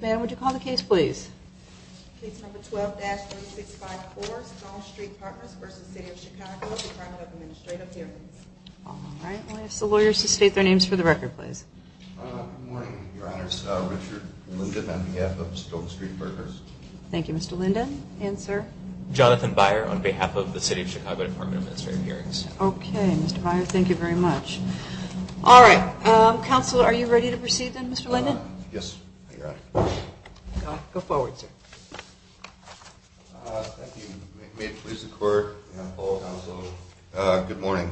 Ma'am, would you call the case, please? Case number 12-3654, Stone Street Partners v. City of Chicago Department of Administrative Hearings All right, I'll ask the lawyers to state their names for the record, please. Good morning, Your Honors. Richard Linden, MDF of Stone Street Partners Thank you, Mr. Linden. And, sir? Jonathan Byer, on behalf of the City of Chicago Department of Administrative Hearings Okay, Mr. Byer, thank you very much. Mr. Linden? Yes, Your Honor. Go forward, sir. Thank you. May it please the Court and all counsel, good morning.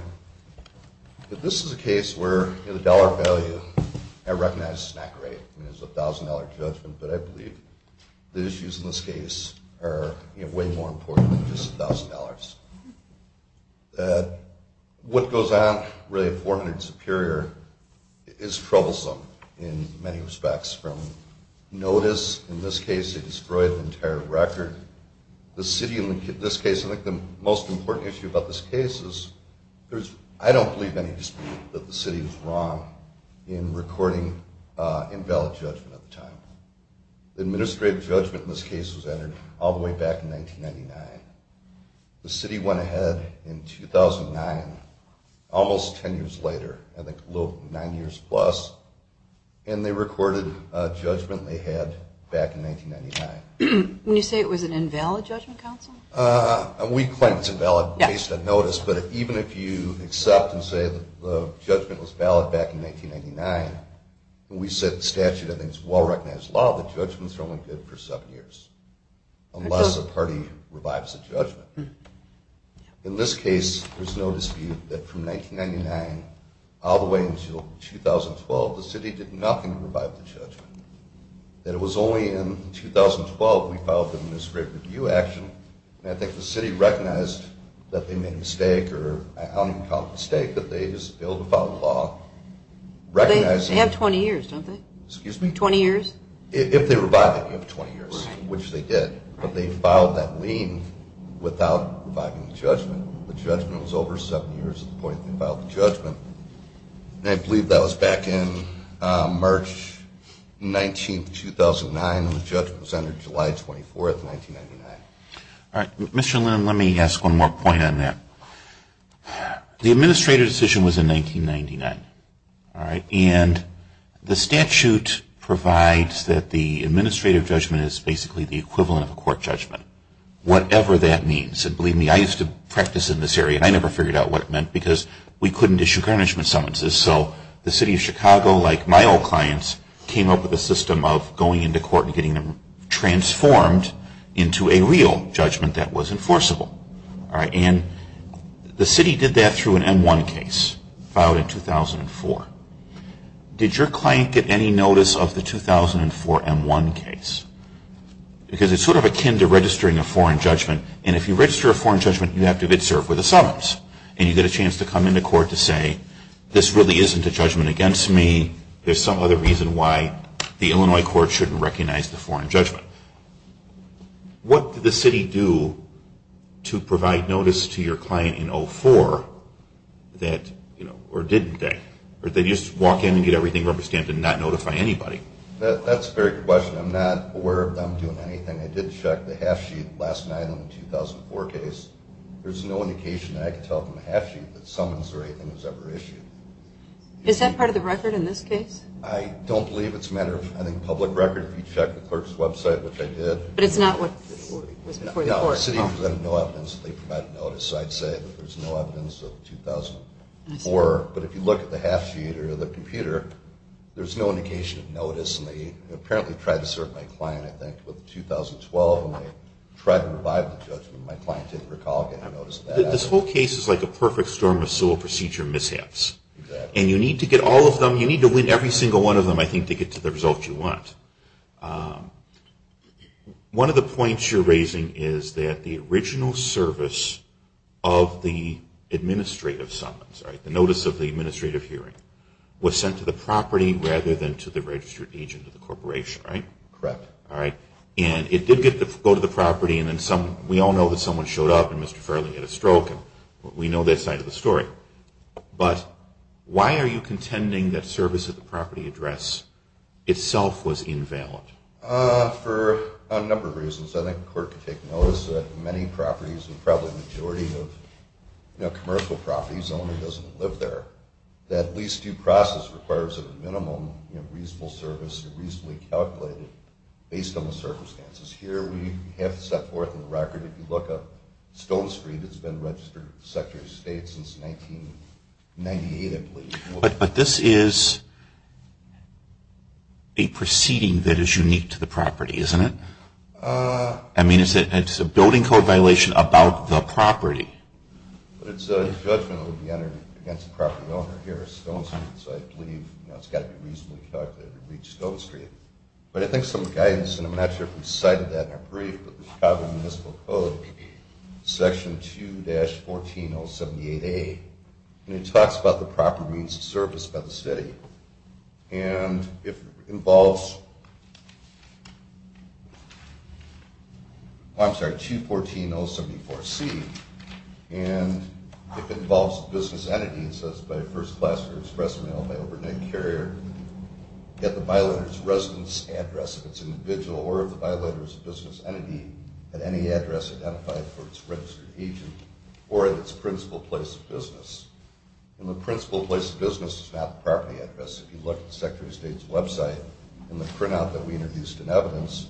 This is a case where the dollar value, I recognize it's not great, it's a $1,000 judgment, but I believe the issues in this case are way more important than just $1,000. What goes on, really, at 400 Superior is troublesome in many respects, from notice, in this case they destroyed the entire record, the city, in this case, I think the most important issue about this case is, I don't believe any dispute that the city was wrong in recording invalid judgment at the time. The administrative judgment in this case was entered all the way back in 1999. The city went ahead in 2009, almost ten years later, I think nine years plus, and they recorded a judgment they had back in 1999. When you say it was an invalid judgment, counsel? We claim it's invalid based on notice, but even if you accept and say the judgment was valid back in 1999, when we set the statute, I think it's a well-recognized law that judgments are only good for seven years, unless the party revives the judgment. In this case, there's no dispute that from 1999 all the way until 2012, the city did nothing to revive the judgment. That it was only in 2012 we filed the administrative review action, and I think the city recognized that they made a mistake, or I don't even call it a mistake, but I think that they just failed to follow the law. They have 20 years, don't they? Excuse me? 20 years? If they revive it, you have 20 years, which they did, but they filed that lien without reviving the judgment. The judgment was over seven years at the point they filed the judgment, and I believe that was back in March 19, 2009, and the judgment was entered July 24, 1999. All right. Mr. Lind, let me ask one more point on that. The administrative decision was in 1999, all right, and the statute provides that the administrative judgment is basically the equivalent of a court judgment, whatever that means. And believe me, I used to practice in this area, and I never figured out what it meant because we couldn't issue garnishment summonses. So the city of Chicago, like my old clients, came up with a system of going into court and getting them transformed into a real judgment that was enforceable. All right. And the city did that through an M1 case filed in 2004. Did your client get any notice of the 2004 M1 case? Because it's sort of akin to registering a foreign judgment, and if you register a foreign judgment, you have to serve with a summons, and you get a chance to come into court to say, this really isn't a judgment against me. There's some other reason why the Illinois court shouldn't recognize the foreign judgment. What did the city do to provide notice to your client in 2004 that, you know, or didn't they? Or did they just walk in and get everything represented and not notify anybody? That's a very good question. I'm not aware of them doing anything. I did check the half-sheet last night on the 2004 case. There's no indication that I could tell from the half-sheet that summons or anything was ever issued. Is that part of the record in this case? I don't believe it's a matter of, I think, public record. You check the clerk's website, which I did. But it's not what was before the court. No, the city presented no evidence that they provided notice. So I'd say that there's no evidence of the 2004. But if you look at the half-sheet or the computer, there's no indication of notice. And they apparently tried to serve my client, I think, with the 2012, and they tried to revive the judgment. My client didn't recall getting notice of that. This whole case is like a perfect storm of sewer procedure mishaps. Exactly. And you need to get all of them. You need to win every single one of them, I think, to get to the results you want. One of the points you're raising is that the original service of the administrative summons, the notice of the administrative hearing, was sent to the property rather than to the registered agent of the corporation, right? Correct. All right. And it did go to the property, and then we all know that someone showed up and Mr. Farrelly had a stroke. We know that side of the story. But why are you contending that service at the property address itself was invalid? For a number of reasons. I think the court could take notice that many properties, and probably the majority of commercial properties only, doesn't live there. That lease due process requires a minimum reasonable service and reasonably calculated based on the circumstances. Here we have set forth in the record, if you look up Stone Street, it's been registered with the Secretary of State since 1998, I believe. But this is a proceeding that is unique to the property, isn't it? I mean, it's a building code violation about the property. It's a judgment that would be entered against the property owner here at Stone Street, so I believe it's got to be reasonably calculated to reach Stone Street. But I think some guidance, and I'm not sure if we cited that in our brief, but the Chicago Municipal Code, Section 2-14078A, and it talks about the proper means of service by the city. And if it involves, I'm sorry, 214074C, and if it involves a business entity, it says, by first class or express mail by overnight carrier, get the violator's residence address, if it's an individual or if the violator is a business entity, at any address identified for its registered agent or at its principal place of business. And the principal place of business is not the property address. If you look at the Secretary of State's website, in the printout that we introduced in evidence,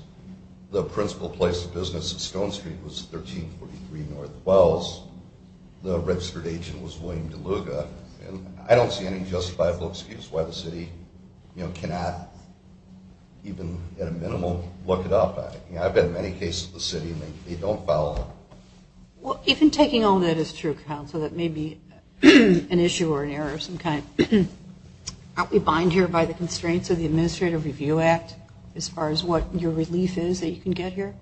the principal place of business at Stone Street was 1343 North Wells. The registered agent was William DeLuga. I don't see any justifiable excuse why the city cannot, even at a minimal, look it up. I've had many cases of the city and they don't follow. Well, even taking all that as true, Counsel, that may be an issue or an error of some kind, aren't we buying here by the constraints of the Administrative Review Act as far as what your relief is that you can get here?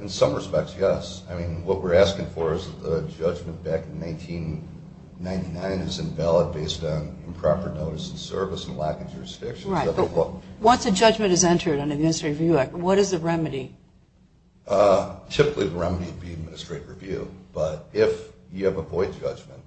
In some respects, yes. I mean, what we're asking for is that the judgment back in 1999 is invalid based on improper notice of service and lack of jurisdiction. Right, but once a judgment is entered under the Administrative Review Act, what is the remedy? Typically, the remedy would be Administrative Review. But if you have a void judgment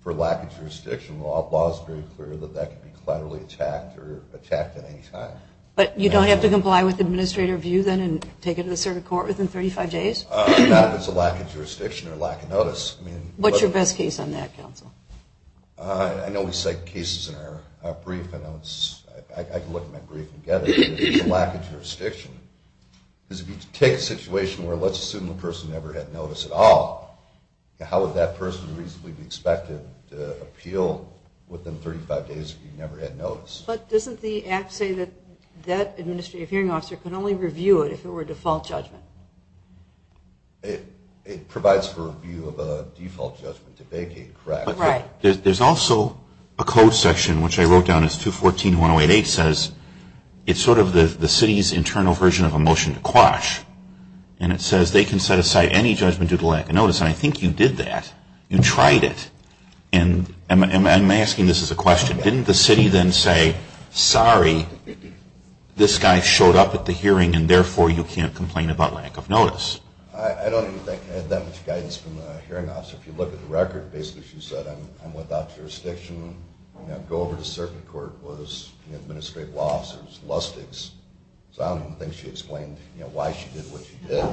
for lack of jurisdiction, the law is very clear that that could be collaterally attacked or attacked at any time. But you don't have to comply with Administrative Review then and take it to the circuit court within 35 days? Not if it's a lack of jurisdiction or a lack of notice. What's your best case on that, Counsel? I know we cite cases in our brief. I can look at my brief and get it. If it's a lack of jurisdiction, because if you take a situation where a legislative person never had notice at all, how would that person reasonably be expected to appeal within 35 days if he never had notice? But doesn't the Act say that that administrative hearing officer could only review it if it were a default judgment? It provides for review of a default judgment to vacate, correct? Right. There's also a code section, which I wrote down as 214-1088, says it's sort of the city's internal version of a motion to quash. And it says they can set aside any judgment due to lack of notice. And I think you did that. You tried it. And I'm asking this as a question. Didn't the city then say, sorry, this guy showed up at the hearing and therefore you can't complain about lack of notice? I don't think I had that much guidance from the hearing officer. If you look at the record, basically she said, I'm without jurisdiction. Go over to circuit court. Was it an administrative loss or was it lustigs? So I don't think she explained why she did what she did.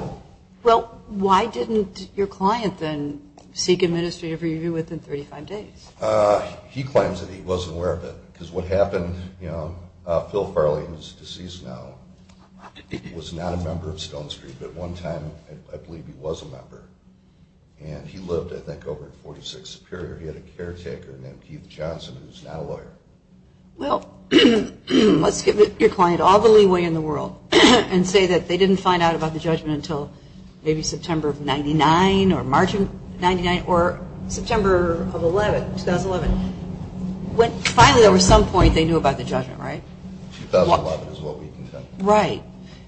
Well, why didn't your client then seek administrative review within 35 days? He claims that he wasn't aware of it. Because what happened, you know, Phil Farley, who's deceased now, was not a member of Stone Street. But at one time I believe he was a member. And he lived, I think, over at 46 Superior. He had a caretaker named Keith Johnson who's not a lawyer. Well, let's give your client all the leeway in the world and say that they didn't find out about the judgment until maybe September of 99 or March of 99 or September of 11, 2011. When finally there was some point they knew about the judgment, right? 2011 is what we contend. Right.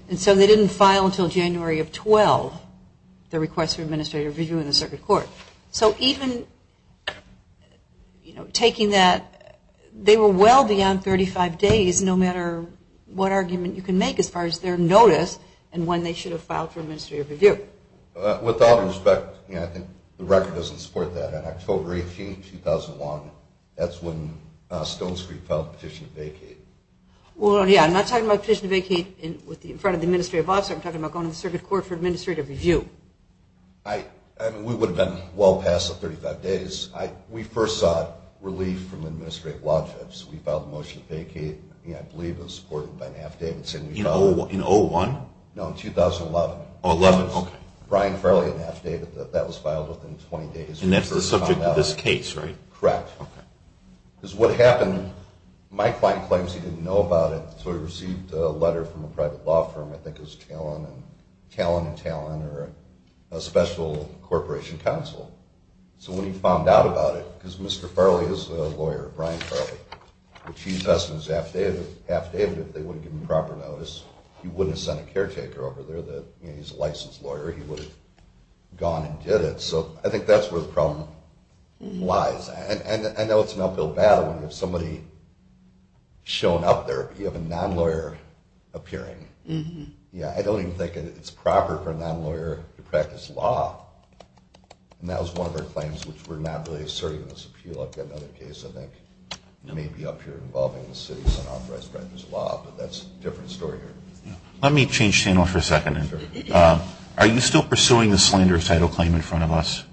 And so they didn't file until January of 12 the request for administrative review in the circuit court. So even taking that, they were well beyond 35 days, no matter what argument you can make as far as their notice and when they should have filed for administrative review. With all due respect, you know, I think the record doesn't support that. On October 18, 2001, that's when Stone Street filed a petition to vacate. Well, yeah, I'm not talking about a petition to vacate in front of the administrative office. I'm talking about going to the circuit court for administrative review. I mean, we would have been well past the 35 days. We first saw relief from administrative lodgings. We filed a motion to vacate, you know, I believe it was supported by Naft Davidson. In 01? No, in 2011. Oh, 11, okay. Brian Farley and Naft Davidson. That was filed within 20 days. And that's the subject of this case, right? Correct. Okay. Because what happened, my client claims he didn't know about it, so he received a letter from a private law firm, I think it was Talon and Talon, or a special corporation counsel. So when he found out about it, because Mr. Farley is a lawyer, Brian Farley, which he invests in Naft Davidson. If they wouldn't give him proper notice, he wouldn't have sent a caretaker over there that, you know, he's a licensed lawyer. He would have gone and did it. So I think that's where the problem lies. And I know it's not built badly. If somebody shown up there, you have a non-lawyer appearing. Yeah, I don't even think it's proper for a non-lawyer to practice law, and that was one of our claims, which we're not really asserting in this appeal. I've got another case, I think, maybe up here involving the city's unauthorized practice of law, but that's a different story. Let me change channels for a second. Are you still pursuing the slanderous title claim in front of us?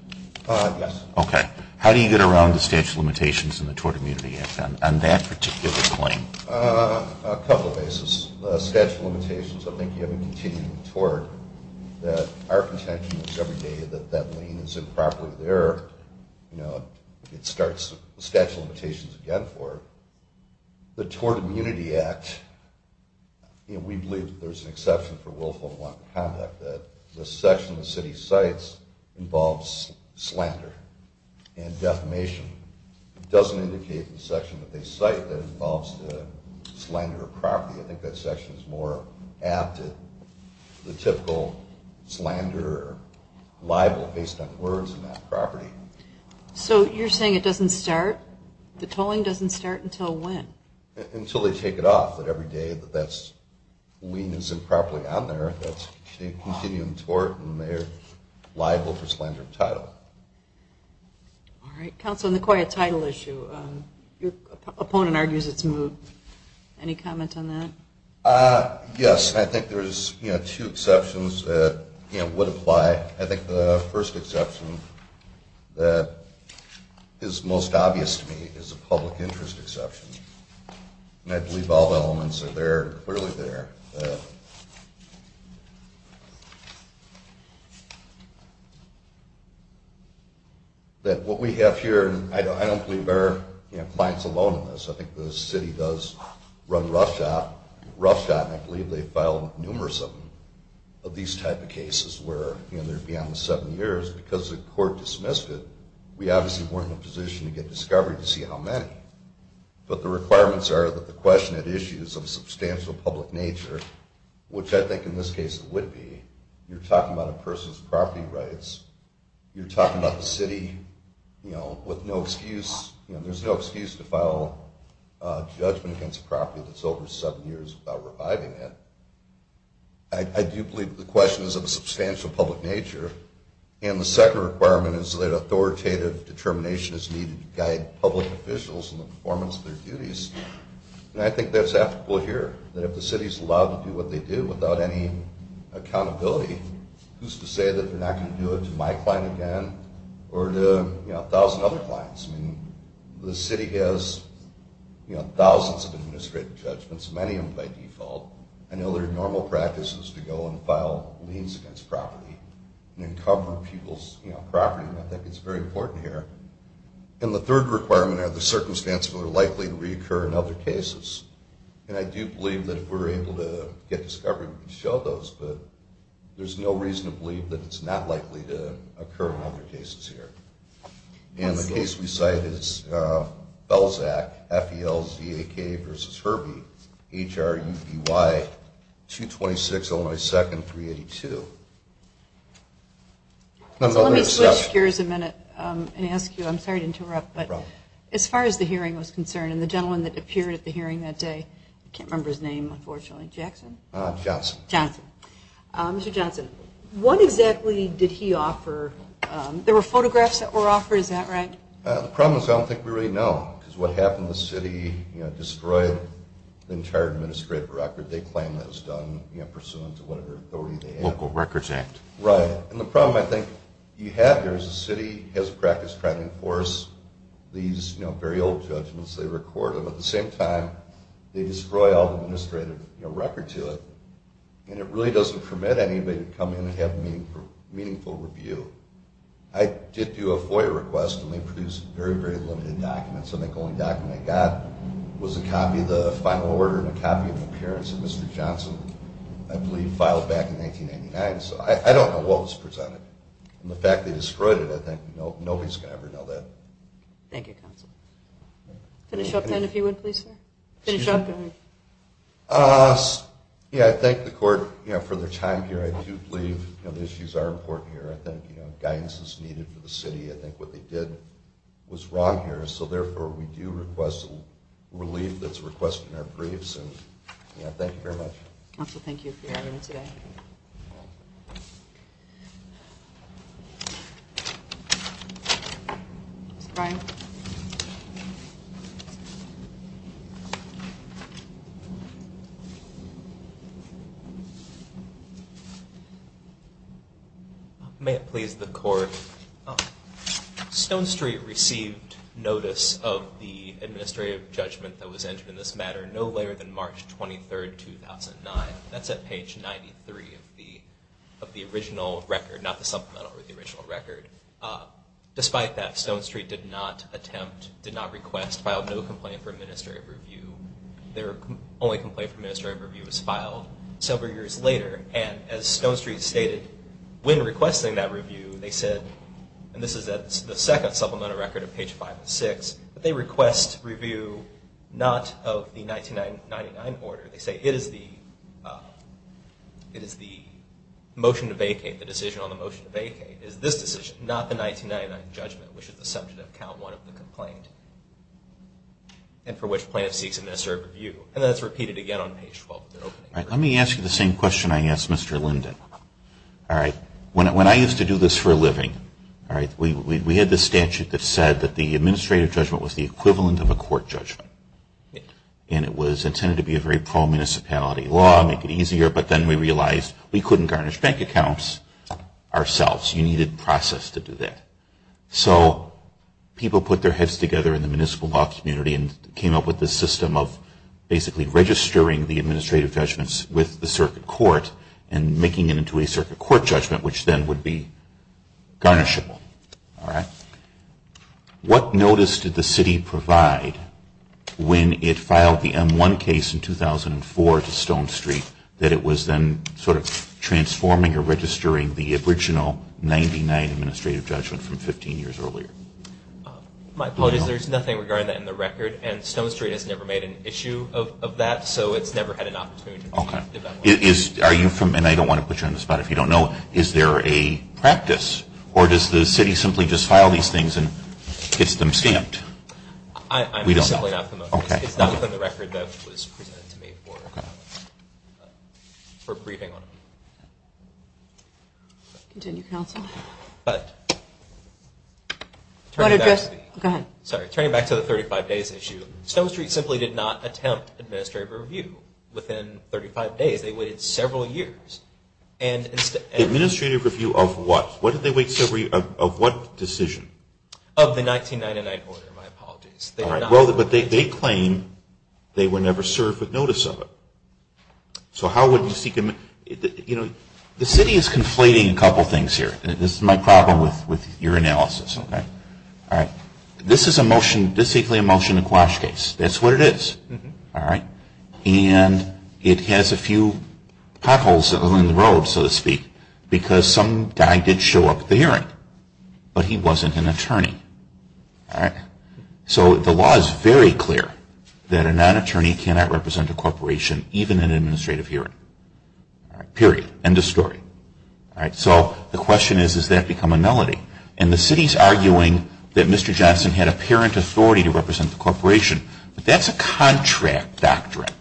Yes. Okay. How do you get around the statute of limitations in the Tort Immunity Act on that particular claim? A couple of ways. The statute of limitations, I think you have in continuing the tort, that our contention is every day that that lien is improper there. You know, it starts the statute of limitations again for it. The Tort Immunity Act, you know, we believe that there's an exception for willful and unlawful conduct, that the section the city cites involves slander and defamation. It doesn't indicate the section that they cite that involves slander or property. I think that section is more apt at the typical slander or libel based on words and not property. So you're saying it doesn't start? The tolling doesn't start until when? Until they take it off, that every day that that lien isn't properly on there, that's a continuing tort and they're liable for slander and title. All right. Counsel, on the quiet title issue, your opponent argues it's moved. Any comment on that? Yes. I think there's, you know, two exceptions that, you know, would apply. I think the first exception that is most obvious to me is a public interest exception, and I believe all the elements are there and clearly there. That what we have here, and I don't believe our clients alone in this, I think the city does run roughshod, and I believe they've filed numerous of these type of cases where they're beyond the seven years because the court dismissed it. We obviously weren't in a position to get discovery to see how many, but the requirements are that the question at issue is of a substantial public nature, which I think in this case it would be. You're talking about a person's property rights. You're talking about the city, you know, with no excuse. There's no excuse to file a judgment against a property that's over seven years without reviving it. I do believe the question is of a substantial public nature, and the second requirement is that authoritative determination is needed to guide public officials in the performance of their duties, and I think that's applicable here, that if the city is allowed to do what they do without any accountability, who's to say that they're not going to do it to my client again or to, you know, a thousand other clients? I mean, the city has, you know, thousands of administrative judgments, many of them by default. I know there are normal practices to go and file liens against property and cover people's property, and I think it's very important here. And the third requirement are the circumstances that are likely to reoccur in other cases, and I do believe that if we're able to get discovery, we can show those, but there's no reason to believe that it's not likely to occur in other cases here. And the case we cite is Belzac, F-E-L-Z-A-K versus Herbie, H-R-U-B-Y, 226 Illinois 2nd, 382. So let me switch gears a minute and ask you, I'm sorry to interrupt, but as far as the hearing was concerned, and the gentleman that appeared at the hearing that day, I can't remember his name, unfortunately, Jackson? Johnson. Johnson. Mr. Johnson, what exactly did he offer? There were photographs that were offered, is that right? The problem is I don't think we really know, because what happened the city destroyed the entire administrative record they claim that was done pursuant to whatever authority they had. Local Records Act. Right, and the problem I think you have here is the city has practiced trying to enforce these very old judgments they record, and at the same time they destroy all the administrative record to it, and it really doesn't permit anybody to come in and have meaningful review. I did do a FOIA request, and they produced very, very limited documents, and the only document I got was a copy of the final order and a copy of the appearance of Mr. Johnson, I believe, filed back in 1999. So I don't know what was presented, and the fact they destroyed it, I think nobody's going to ever know that. Thank you, counsel. Finish up, then, if you would, please, sir. Finish up. Yeah, I thank the court for their time here. I do believe the issues are important here. I think guidance is needed for the city. I think what they did was wrong here, so therefore we do request relief that's requested in our briefs, and thank you very much. Counsel, thank you for your time today. Mr. Bryan. Thank you. May it please the court. Stone Street received notice of the administrative judgment that was entered in this matter no later than March 23, 2009. That's at page 93 of the original record, not the supplemental, but the original record. Despite that, Stone Street did not attempt, did not request, filed no complaint for administrative review. Their only complaint for administrative review was filed several years later, and as Stone Street stated, when requesting that review, they said, and this is at the second supplemental record at page 506, that they request review not of the 1999 order. They say it is the motion to vacate, the decision on the motion to vacate, is this decision, not the 1999 judgment, which is the subject of count one of the complaint, and for which plan seeks administrative review. And that's repeated again on page 12 of the opening record. Let me ask you the same question I asked Mr. Linden. When I used to do this for a living, we had this statute that said that the administrative judgment was the equivalent of a court judgment, and it was intended to be a very pro-municipality law, make it easier, but then we realized we couldn't garnish bank accounts ourselves. You needed process to do that. So people put their heads together in the municipal law community and came up with this system of basically registering the administrative judgments with the circuit court and making it into a circuit court judgment, which then would be garnishable. What notice did the city provide when it filed the M1 case in 2004 to Stone Street that it was then sort of transforming or registering the original 1999 administrative judgment from 15 years earlier? My apologies. There's nothing regarding that in the record, and Stone Street has never made an issue of that, so it's never had an opportunity to develop it. Okay. Are you from, and I don't want to put you on the spot if you don't know, is there a practice, or does the city simply just file these things and gets them stamped? I'm simply not familiar. Okay. It's not within the record that was presented to me for briefing on them. Continue, counsel. But turning back to the 35 days issue, Stone Street simply did not attempt administrative review within 35 days. They waited several years. Administrative review of what? What did they wait several years, of what decision? Of the 1999 order. My apologies. Well, but they claim they were never served with notice of it. So how would you seek? You know, the city is conflating a couple things here. This is my problem with your analysis, okay? All right. This is a motion, basically a motion to quash case. That's what it is. All right. And it has a few potholes along the road, so to speak, because some guy did show up at the hearing, but he wasn't an attorney. All right. So the law is very clear that a non-attorney cannot represent a corporation, even in an administrative hearing. All right. Period. End of story. All right. So the question is, does that become a nullity? And the city is arguing that Mr. Johnson had apparent authority to represent the corporation, but that's a contract doctrine.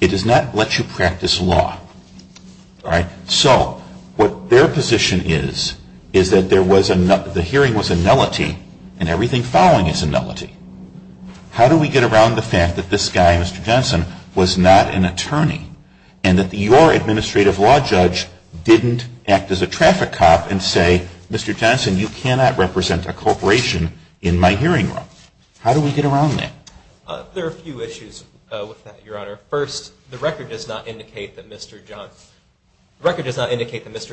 It does not let you practice law. All right. So what their position is, is that the hearing was a nullity and everything following is a nullity. How do we get around the fact that this guy, Mr. Johnson, was not an attorney and that your administrative law judge didn't act as a traffic cop and say, Mr. Johnson, you cannot represent a corporation in my hearing room? How do we get around that? There are a few issues with that, Your Honor. First, the record does not indicate that Mr.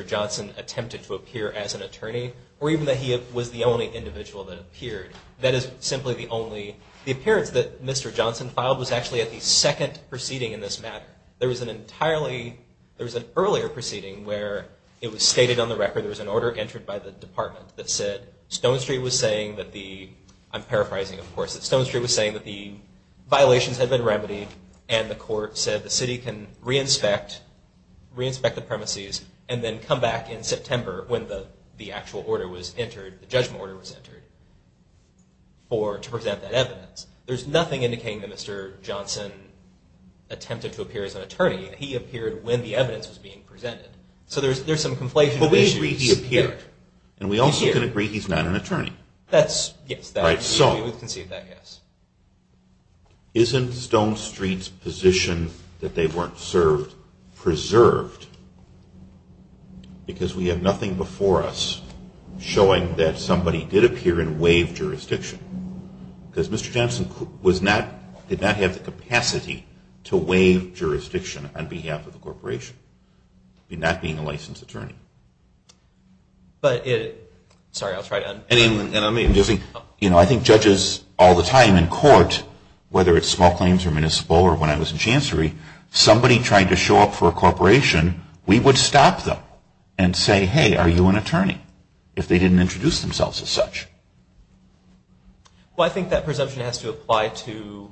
Johnson attempted to appear as an attorney or even that he was the only individual that appeared. That is simply the only. The appearance that Mr. Johnson filed was actually at the second proceeding in this matter. There was an earlier proceeding where it was stated on the record, there was an order entered by the department that said Stone Street was saying that the, I'm paraphrasing, of course, that Stone Street was saying that the violations had been remedied and the court said the city can re-inspect the premises and then come back in September when the actual order was entered, the judgment order was entered, to present that evidence. There's nothing indicating that Mr. Johnson attempted to appear as an attorney. He appeared when the evidence was being presented. So there's some conflation of issues. But we agree he appeared, and we also can agree he's not an attorney. Yes, we would conceive that, yes. Isn't Stone Street's position that they weren't served preserved? Because we have nothing before us showing that somebody did appear in waived jurisdiction. Because Mr. Johnson was not, did not have the capacity to waive jurisdiction on behalf of the corporation, not being a licensed attorney. But it, sorry, I'll try to un- I think judges all the time in court, whether it's small claims or municipal or when I was in chancery, somebody trying to show up for a corporation, we would stop them and say, hey, are you an attorney, if they didn't introduce themselves as such. Well, I think that presumption has to apply to,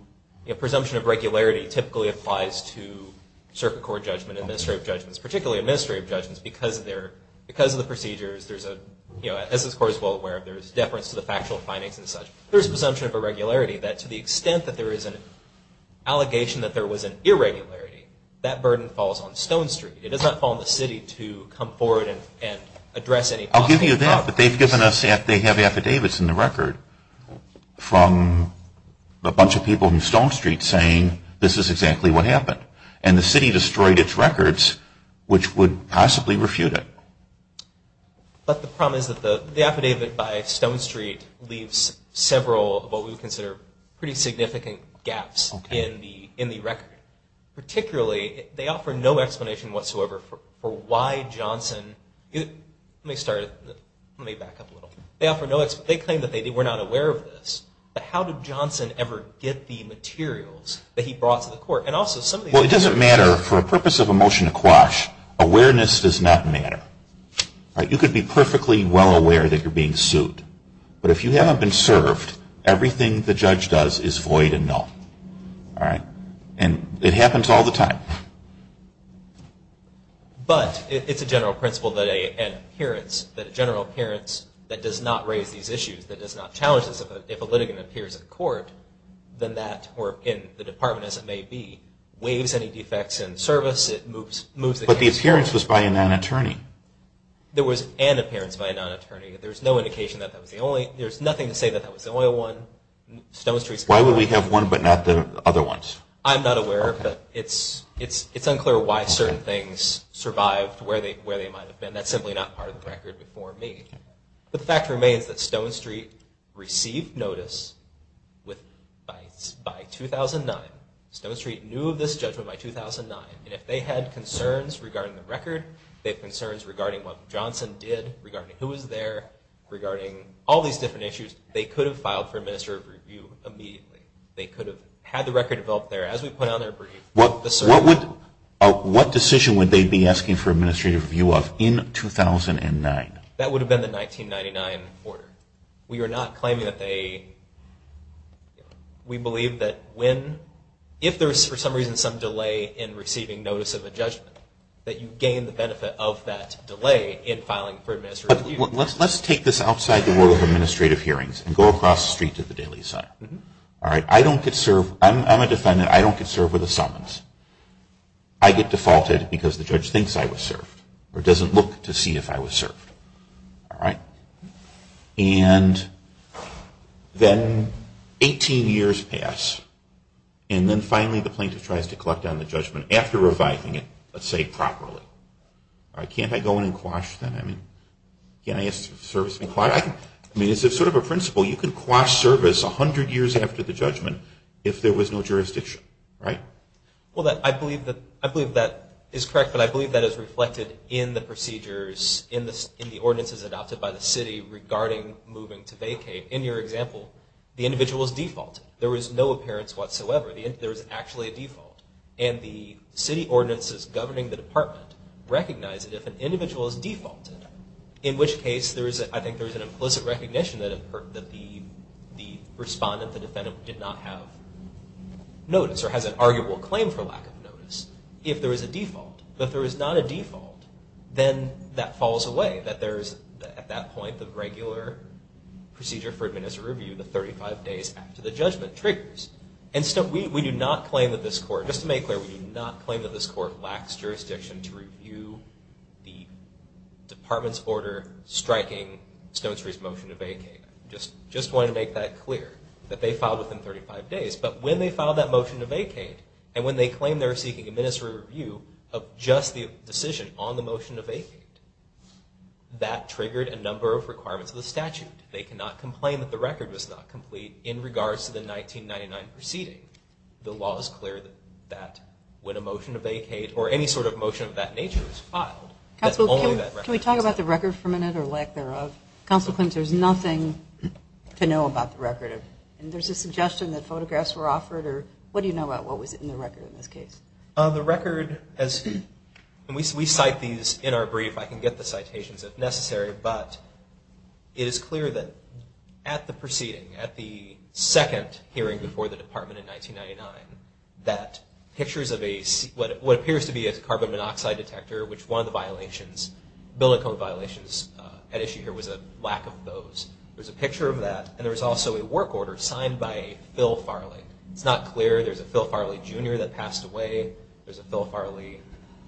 presumption of regularity typically applies to circuit court judgment, administrative judgments, particularly administrative judgments, because of their, because of the procedures, there's a, you know, as this court is well aware of, there's deference to the factual findings and such. There's presumption of irregularity that to the extent that there is an allegation that there was an irregularity, that burden falls on Stone Street. It does not fall on the city to come forward and address any possible problems. I'll give you that, but they've given us, they have affidavits in the record from a bunch of people in Stone Street saying this is exactly what happened. And the city destroyed its records, which would possibly refute it. But the problem is that the affidavit by Stone Street leaves several of what we would consider pretty significant gaps in the record. Particularly, they offer no explanation whatsoever for why Johnson, let me start, let me back up a little. They offer no, they claim that they were not aware of this, but how did Johnson ever get the materials that he brought to the court? Well, it doesn't matter for a purpose of a motion to quash. Awareness does not matter. You could be perfectly well aware that you're being sued, but if you haven't been served, everything the judge does is void and null. And it happens all the time. But it's a general principle that a general appearance that does not raise these issues, that does not challenge this, if a litigant appears in court, then that, or in the department as it may be, waives any defects in service. It moves the case. But the appearance was by a non-attorney. There was an appearance by a non-attorney. There's no indication that that was the only, there's nothing to say that that was the only one. Why would we have one but not the other ones? I'm not aware, but it's unclear why certain things survived where they might have been. That's simply not part of the record before me. But the fact remains that Stone Street received notice by 2009. Stone Street knew of this judgment by 2009. And if they had concerns regarding the record, they had concerns regarding what Johnson did, regarding who was there, regarding all these different issues, they could have filed for administrative review immediately. They could have had the record developed there as we put on their brief. What decision would they be asking for administrative review of in 2009? That would have been the 1999 order. We are not claiming that they, we believe that when, if there's for some reason some delay in receiving notice of a judgment, that you gain the benefit of that delay in filing for administrative review. Let's take this outside the world of administrative hearings and go across the street to the Daily Sun. All right, I don't get served, I'm a defendant, I don't get served with a summons. I get defaulted because the judge thinks I was served or doesn't look to see if I was served, all right? And then 18 years pass and then finally the plaintiff tries to collect on the judgment after reviving it, let's say properly. All right, can't I go in and quash that? I mean, can't I ask for service and quash? I mean, it's sort of a principle. You can quash service 100 years after the judgment if there was no jurisdiction, right? Well, I believe that is correct, but I believe that is reflected in the procedures, in the ordinances adopted by the city regarding moving to vacate. In your example, the individual was defaulted. There was no appearance whatsoever. There was actually a default. And the city ordinances governing the department recognize that if an individual is defaulted, in which case I think there is an implicit recognition that the respondent, the defendant, did not have notice or has an arguable claim for lack of notice, if there is a default. But if there is not a default, then that falls away, that there is at that point the regular procedure for administer review, the 35 days after the judgment triggers. And we do not claim that this court, just to make clear, we do not claim that this court lacks jurisdiction to review the department's order striking Stone Street's motion to vacate. Just wanted to make that clear, that they filed within 35 days. But when they filed that motion to vacate, and when they claim they're seeking administer review of just the decision on the motion to vacate, that triggered a number of requirements of the statute. They cannot complain that the record was not complete in regards to the 1999 proceeding. The law is clear that when a motion to vacate or any sort of motion of that nature is filed, that's only that record. Counsel, can we talk about the record for a minute, or lack thereof? Counsel, there's nothing to know about the record. There's a suggestion that photographs were offered, or what do you know about what was in the record in this case? The record, and we cite these in our brief. I can get the citations if necessary. But it is clear that at the proceeding, at the second hearing before the department in 1999, that pictures of what appears to be a carbon monoxide detector, which one of the violations, building code violations at issue here was a lack of those. There's a picture of that, and there's also a work order signed by Phil Farley. It's not clear. There's a Phil Farley Jr. that passed away. There's a Phil Farley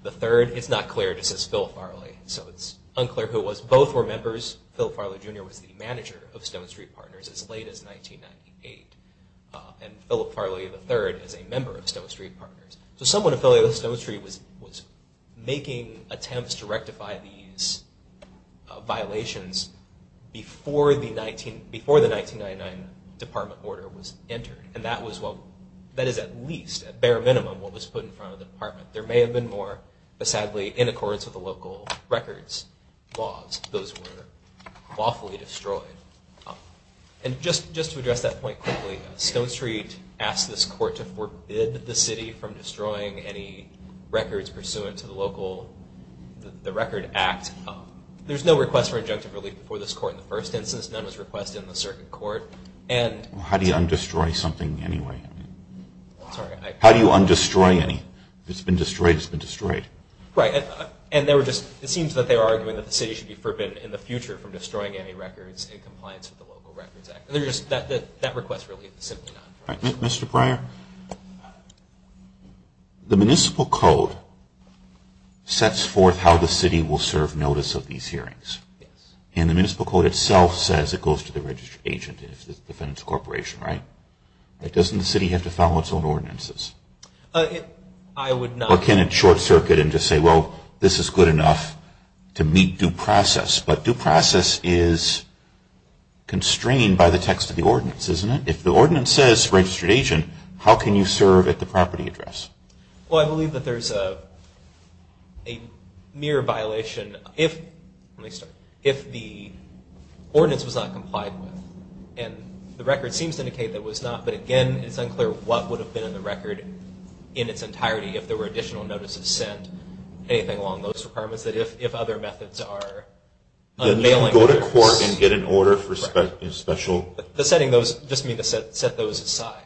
III. It's not clear. It just says Phil Farley. So it's unclear who it was. Both were members. Phil Farley Jr. was the manager of Stone Street Partners as late as 1998. And Philip Farley III is a member of Stone Street Partners. So someone affiliated with Stone Street was making attempts to rectify these violations before the 1999 department order was entered. And that is at least, at bare minimum, what was put in front of the department. There may have been more, but sadly, in accordance with the local records laws, those were lawfully destroyed. And just to address that point quickly, Stone Street asked this court to forbid the city from destroying any records pursuant to the local record act. There's no request for injunctive relief before this court in the first instance. None was requested in the circuit court. How do you undestroy something anyway? Sorry. How do you undestroy any? If it's been destroyed, it's been destroyed. Right. And it seems that they were arguing that the city should be forbidden in the future from destroying any records in compliance with the local records act. That request really is simply none. All right. Mr. Pryor, the municipal code sets forth how the city will serve notice of these hearings. Yes. And the municipal code itself says it goes to the registered agent, if it's a defense corporation, right? Doesn't the city have to follow its own ordinances? I would not. Or can it short circuit and just say, well, this is good enough to meet due process? But due process is constrained by the text of the ordinance, isn't it? If the ordinance says registered agent, how can you serve at the property address? Well, I believe that there's a mere violation if the ordinance was not complied with. And the record seems to indicate that it was not. But, again, it's unclear what would have been in the record in its entirety if there were additional notices sent, anything along those requirements, that if other methods are unmailing records. Go to court and get an order for special. Just mean to set those aside.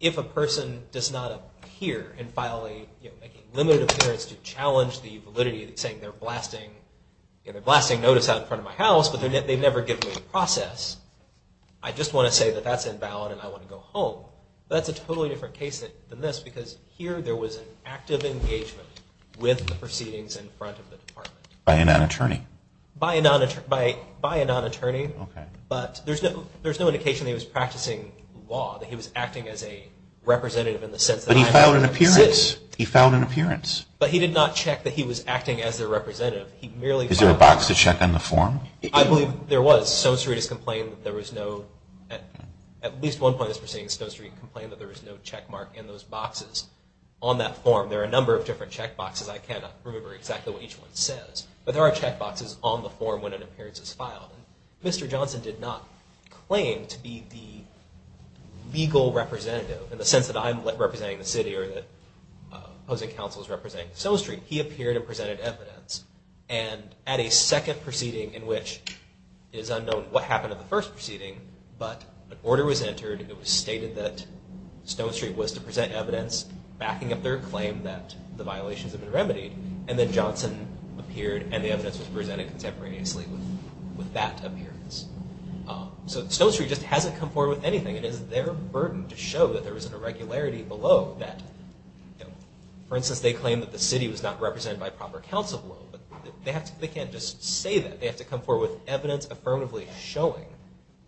If a person does not appear and file a limited appearance to challenge the validity of saying they're blasting notice out in front of my house, but they've never given me the process, I just want to say that that's invalid and I want to go home. That's a totally different case than this, because here there was an active engagement with the proceedings in front of the department. By a non-attorney? By a non-attorney. Okay. But there's no indication that he was practicing law, that he was acting as a representative in the sense that I'm going to visit. But he filed an appearance. He filed an appearance. But he did not check that he was acting as their representative. He merely filed an appearance. Is there a box to check on the form? I believe there was. Stone Street has complained that there was no, at least one point in this proceeding, Stone Street complained that there was no checkmark in those boxes on that form. There are a number of different checkboxes. I cannot remember exactly what each one says. But there are checkboxes on the form when an appearance is filed. Mr. Johnson did not claim to be the legal representative in the sense that I'm representing the city or that opposing counsel is representing Stone Street. He appeared and presented evidence. And at a second proceeding in which it is unknown what happened at the first proceeding, but an order was entered. It was stated that Stone Street was to present evidence backing up their claim that the violations had been remedied. And then Johnson appeared and the evidence was presented contemporaneously with that appearance. So Stone Street just hasn't come forward with anything. It is their burden to show that there was an irregularity below that. For instance, they claim that the city was not represented by proper counsel below. But they can't just say that. They have to come forward with evidence affirmatively showing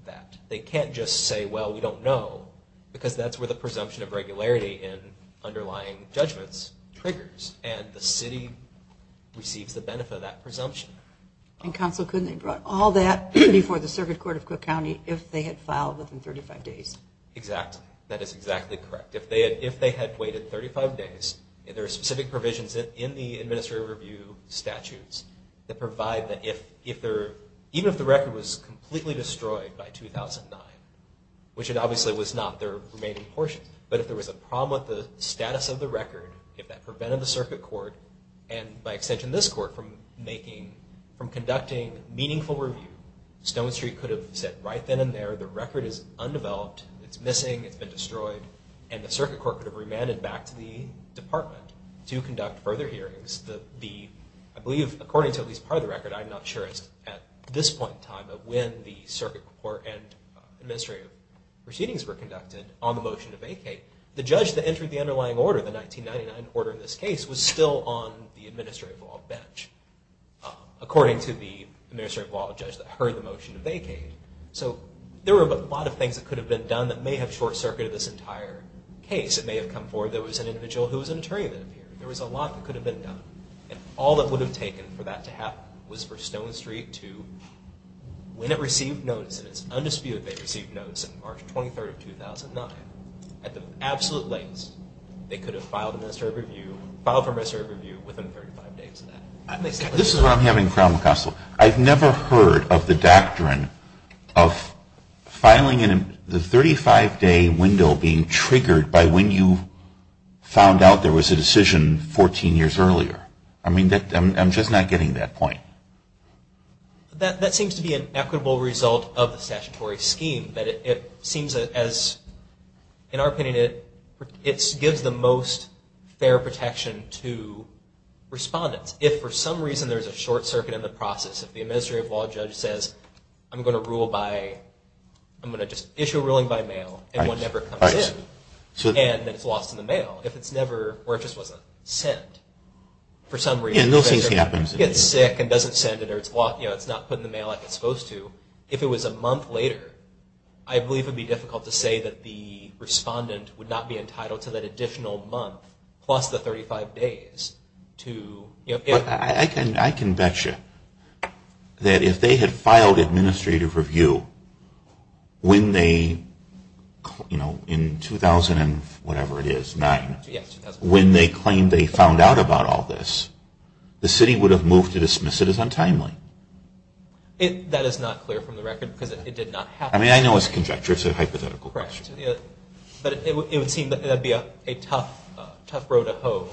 that. They can't just say, well, we don't know, because that's where the presumption of regularity in underlying judgments triggers. And the city receives the benefit of that presumption. And counsel couldn't have brought all that before the circuit court of Cook County if they had filed within 35 days. Exactly. That is exactly correct. If they had waited 35 days, there are specific provisions in the administrative review statutes that provide that even if the record was completely destroyed by 2009, which it obviously was not their remaining portion, but if there was a problem with the status of the record, if that prevented the circuit court, and by extension this court, from conducting meaningful review, Stone Street could have said right then and there, the record is undeveloped, it's missing, it's been destroyed, and the circuit court could have remanded back to the department to conduct further hearings. I believe, according to at least part of the record, I'm not sure it's at this point in time, but when the circuit court and administrative proceedings were conducted on the motion to vacate, the judge that entered the underlying order, the 1999 order in this case, was still on the administrative law bench, according to the administrative law judge that heard the motion to vacate. So there were a lot of things that could have been done that may have short-circuited this entire case. It may have come forward there was an individual who was an attorney that appeared. There was a lot that could have been done. And all that would have taken for that to happen was for Stone Street to, when it received notice, and it's undisputed they received notice on March 23rd of 2009, at the absolute latest, they could have filed for administrative review within 35 days of that. This is where I'm having a problem, Constable. I've never heard of the doctrine of filing in the 35-day window being triggered by when you found out there was a decision 14 years earlier. I mean, I'm just not getting that point. That seems to be an equitable result of the statutory scheme, but it seems as, in our opinion, it gives the most fair protection to respondents. If for some reason there's a short circuit in the process, if the administrative law judge says, I'm going to rule by, I'm going to just issue a ruling by mail, and one never comes in, and then it's lost in the mail, if it's never, or it just wasn't sent, for some reason, if it gets sick and doesn't send it or it's not put in the mail like it's supposed to, if it was a month later, I believe it would be difficult to say that the respondent would not be entitled to that additional month plus the 35 days to, you know. I can bet you that if they had filed administrative review when they, you know, in 2000 and whatever it is, when they claimed they found out about all this, the city would have moved to dismiss it as untimely. That is not clear from the record because it did not happen. I mean, I know it's a conjecture. It's a hypothetical question. But it would seem that that would be a tough road to hoe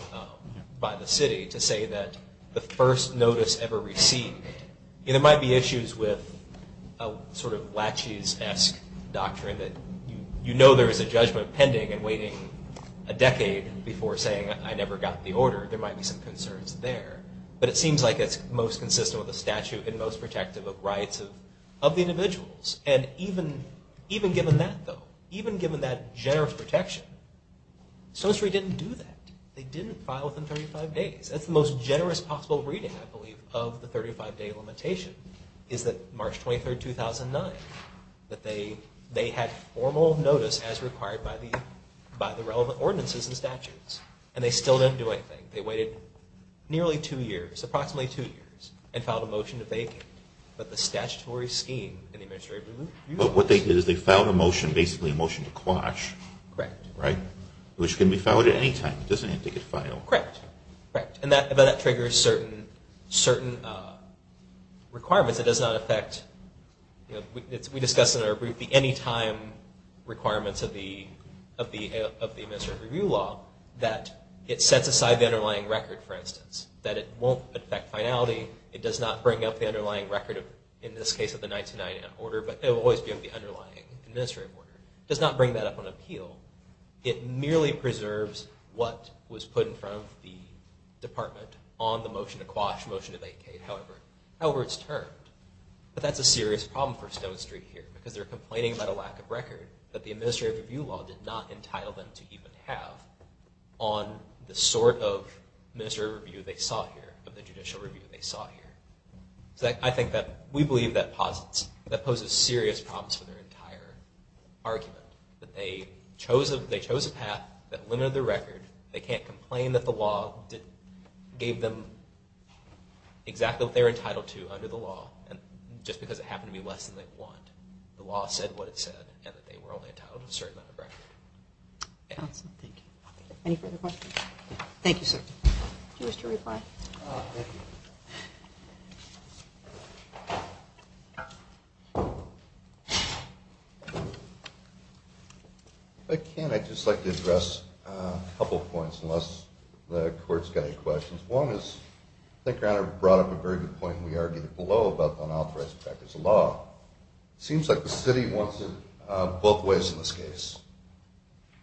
by the city to say that the first notice ever received, there might be issues with a sort of Latches-esque doctrine that you know there is a judgment pending and waiting a decade before saying I never got the order. There might be some concerns there. But it seems like it's most consistent with the statute and most protective of rights of the individuals. And even given that, though, even given that generous protection, Stone Street didn't do that. They didn't file within 35 days. That's the most generous possible reading, I believe, of the 35-day limitation is that March 23, 2009, that they had formal notice as required by the relevant ordinances and statutes. And they still didn't do anything. They waited nearly two years, approximately two years, and filed a motion to vacate. But the statutory scheme in the Administrative Review Law… But what they did is they filed a motion, basically a motion to quash. Correct. Right? Which can be filed at any time. It doesn't have to get filed. Correct. Correct. And that triggers certain requirements. It does not affect, you know, we discussed in our brief the anytime requirements of the Administrative Review Law that it sets aside the underlying record, for instance, that it won't affect finality. It does not bring up the underlying record, in this case of the 1999 order, but it will always be of the underlying administrative order. It does not bring that up on appeal. It merely preserves what was put in front of the department on the motion to quash, motion to vacate, however it's termed. But that's a serious problem for Stone Street here because they're complaining about a lack of record that the Administrative Review Law did not entitle them to even have on the sort of administrative review they sought here, of the judicial review they sought here. So I think that we believe that poses serious problems for their entire argument, that they chose a path that limited their record. They can't complain that the law gave them exactly what they were entitled to under the law just because it happened to be less than they wanted. The law said what it said and that they were only entitled to a certain amount of record. Thank you. Any further questions? Thank you, sir. Do you wish to reply? Thank you. If I can, I'd just like to address a couple of points unless the Court's got any questions. One is, I think Rana brought up a very good point we argued below about unauthorized practice of law. It seems like the city wants it both ways in this case.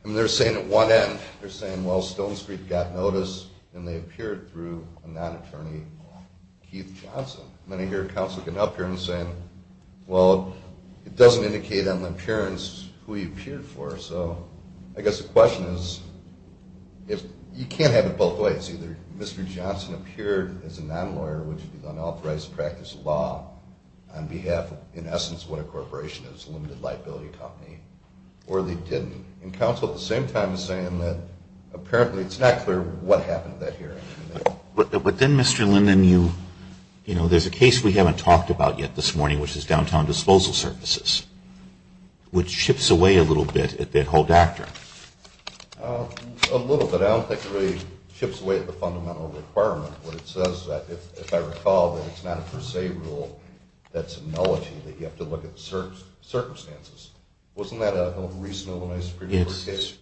I mean, they're saying at one end, they're saying, well, Stone Street got notice and they appeared through a non-attorney, Keith Johnson. Then I hear counsel getting up here and saying, well, it doesn't indicate on the appearance who he appeared for. So I guess the question is, you can't have it both ways. Either Mr. Johnson appeared as a non-lawyer, which is unauthorized practice of law on behalf of, in essence, what a corporation is, a limited liability company, or they didn't. And counsel at the same time is saying that apparently it's not clear what happened at that hearing. But then, Mr. Linden, you know, there's a case we haven't talked about yet this morning, which is downtown disposal services, which chips away a little bit at that whole doctrine. A little bit. I don't think it really chips away at the fundamental requirement. What it says, if I recall, that it's not a per se rule. That's a nullity that you have to look at the circumstances. Wasn't that a recently nominated Supreme Court case? It's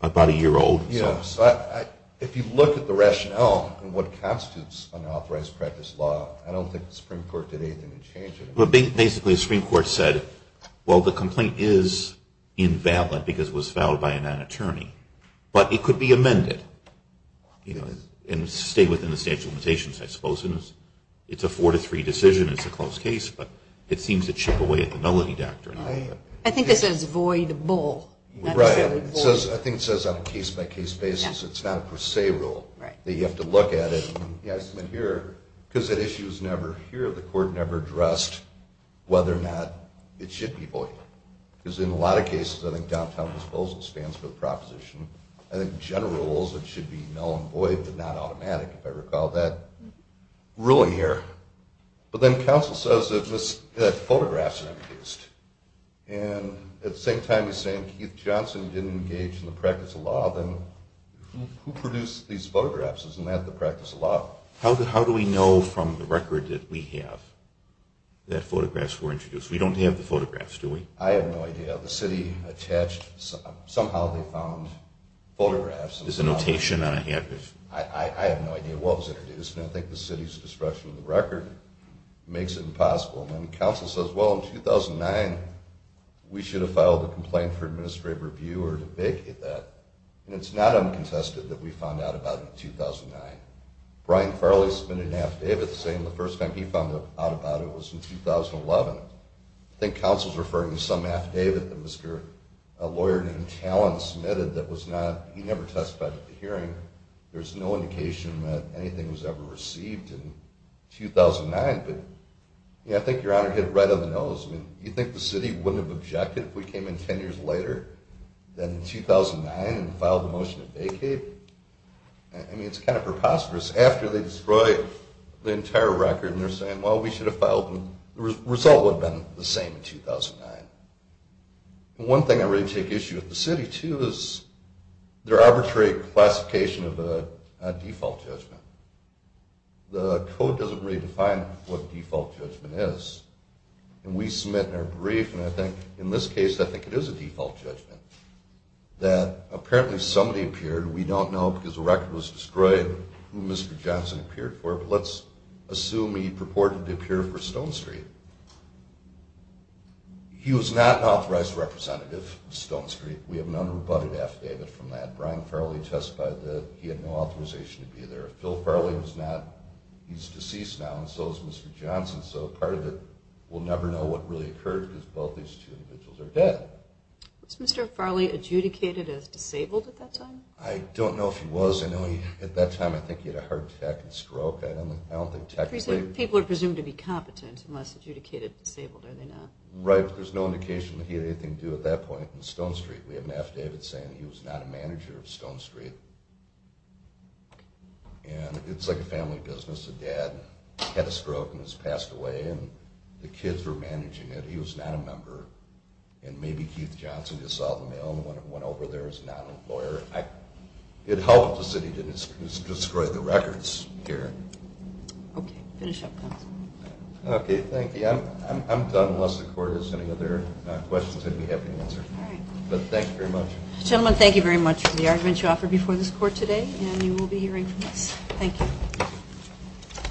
about a year old. If you look at the rationale and what constitutes unauthorized practice law, I don't think the Supreme Court did anything to change it. Basically, the Supreme Court said, well, the complaint is invalid because it was filed by a non-attorney. But it could be amended and stay within the statute of limitations, I suppose. It's a four to three decision. It's a closed case. But it seems to chip away at the nullity doctrine. I think it says void bull. Right. I think it says on a case-by-case basis it's not a per se rule. Right. That you have to look at it. Yes. But here, because that issue is never here, the court never addressed whether or not it should be void. Because in a lot of cases, I think downtown disposal stands for the proposition. I think general rules, it should be null and void, but not automatic, if I recall that ruling here. But then counsel says that photographs were introduced. And at the same time as saying Keith Johnson didn't engage in the practice of law, then who produced these photographs? Isn't that the practice of law? How do we know from the record that we have that photographs were introduced? We don't have the photographs, do we? I have no idea. The city attached, somehow they found photographs. There's a notation on a handbook. I have no idea what was introduced. And I think the city's destruction of the record makes it impossible. And then counsel says, well, in 2009, we should have filed a complaint for administrative review or to vacate that. And it's not uncontested that we found out about it in 2009. Brian Farley submitted an affidavit saying the first time he found out about it was in 2011. I think counsel's referring to some affidavit that a lawyer named Talon submitted that he never testified at the hearing. There's no indication that anything was ever received in 2009. But I think Your Honor hit it right on the nose. You think the city wouldn't have objected if we came in 10 years later than in 2009 and filed the motion to vacate? I mean, it's kind of preposterous. After they destroy the entire record and they're saying, well, we should have filed, the result would have been the same in 2009. One thing I really take issue with the city, too, is their arbitrary classification of a default judgment. The code doesn't really define what default judgment is. And we submit in our brief, and I think in this case, I think it is a default judgment, that apparently somebody appeared. We don't know because the record was destroyed who Mr. Johnson appeared for, but let's assume he purported to appear for Stone Street. He was not an authorized representative of Stone Street. We have an unrebutted affidavit from that. Brian Farley testified that he had no authorization to be there. Phil Farley was not. He's deceased now, and so is Mr. Johnson. So part of it, we'll never know what really occurred because both these two individuals are dead. Was Mr. Farley adjudicated as disabled at that time? I don't know if he was. At that time, I think he had a heart attack and stroke. I don't think technically. People are presumed to be competent unless adjudicated disabled, are they not? Right, but there's no indication that he had anything to do at that point in Stone Street. We have an affidavit saying he was not a manager of Stone Street. And it's like a family business. A dad had a stroke and has passed away, and the kids were managing it. So he was not a member. And maybe Keith Johnson just saw the mail and went over there as a non-employer. It helps that he didn't destroy the records here. Okay, finish up, counsel. Okay, thank you. I'm done unless the court has any other questions I'd be happy to answer. All right. But thank you very much. Gentlemen, thank you very much for the argument you offered before this court today, and you will be hearing from us. Thank you.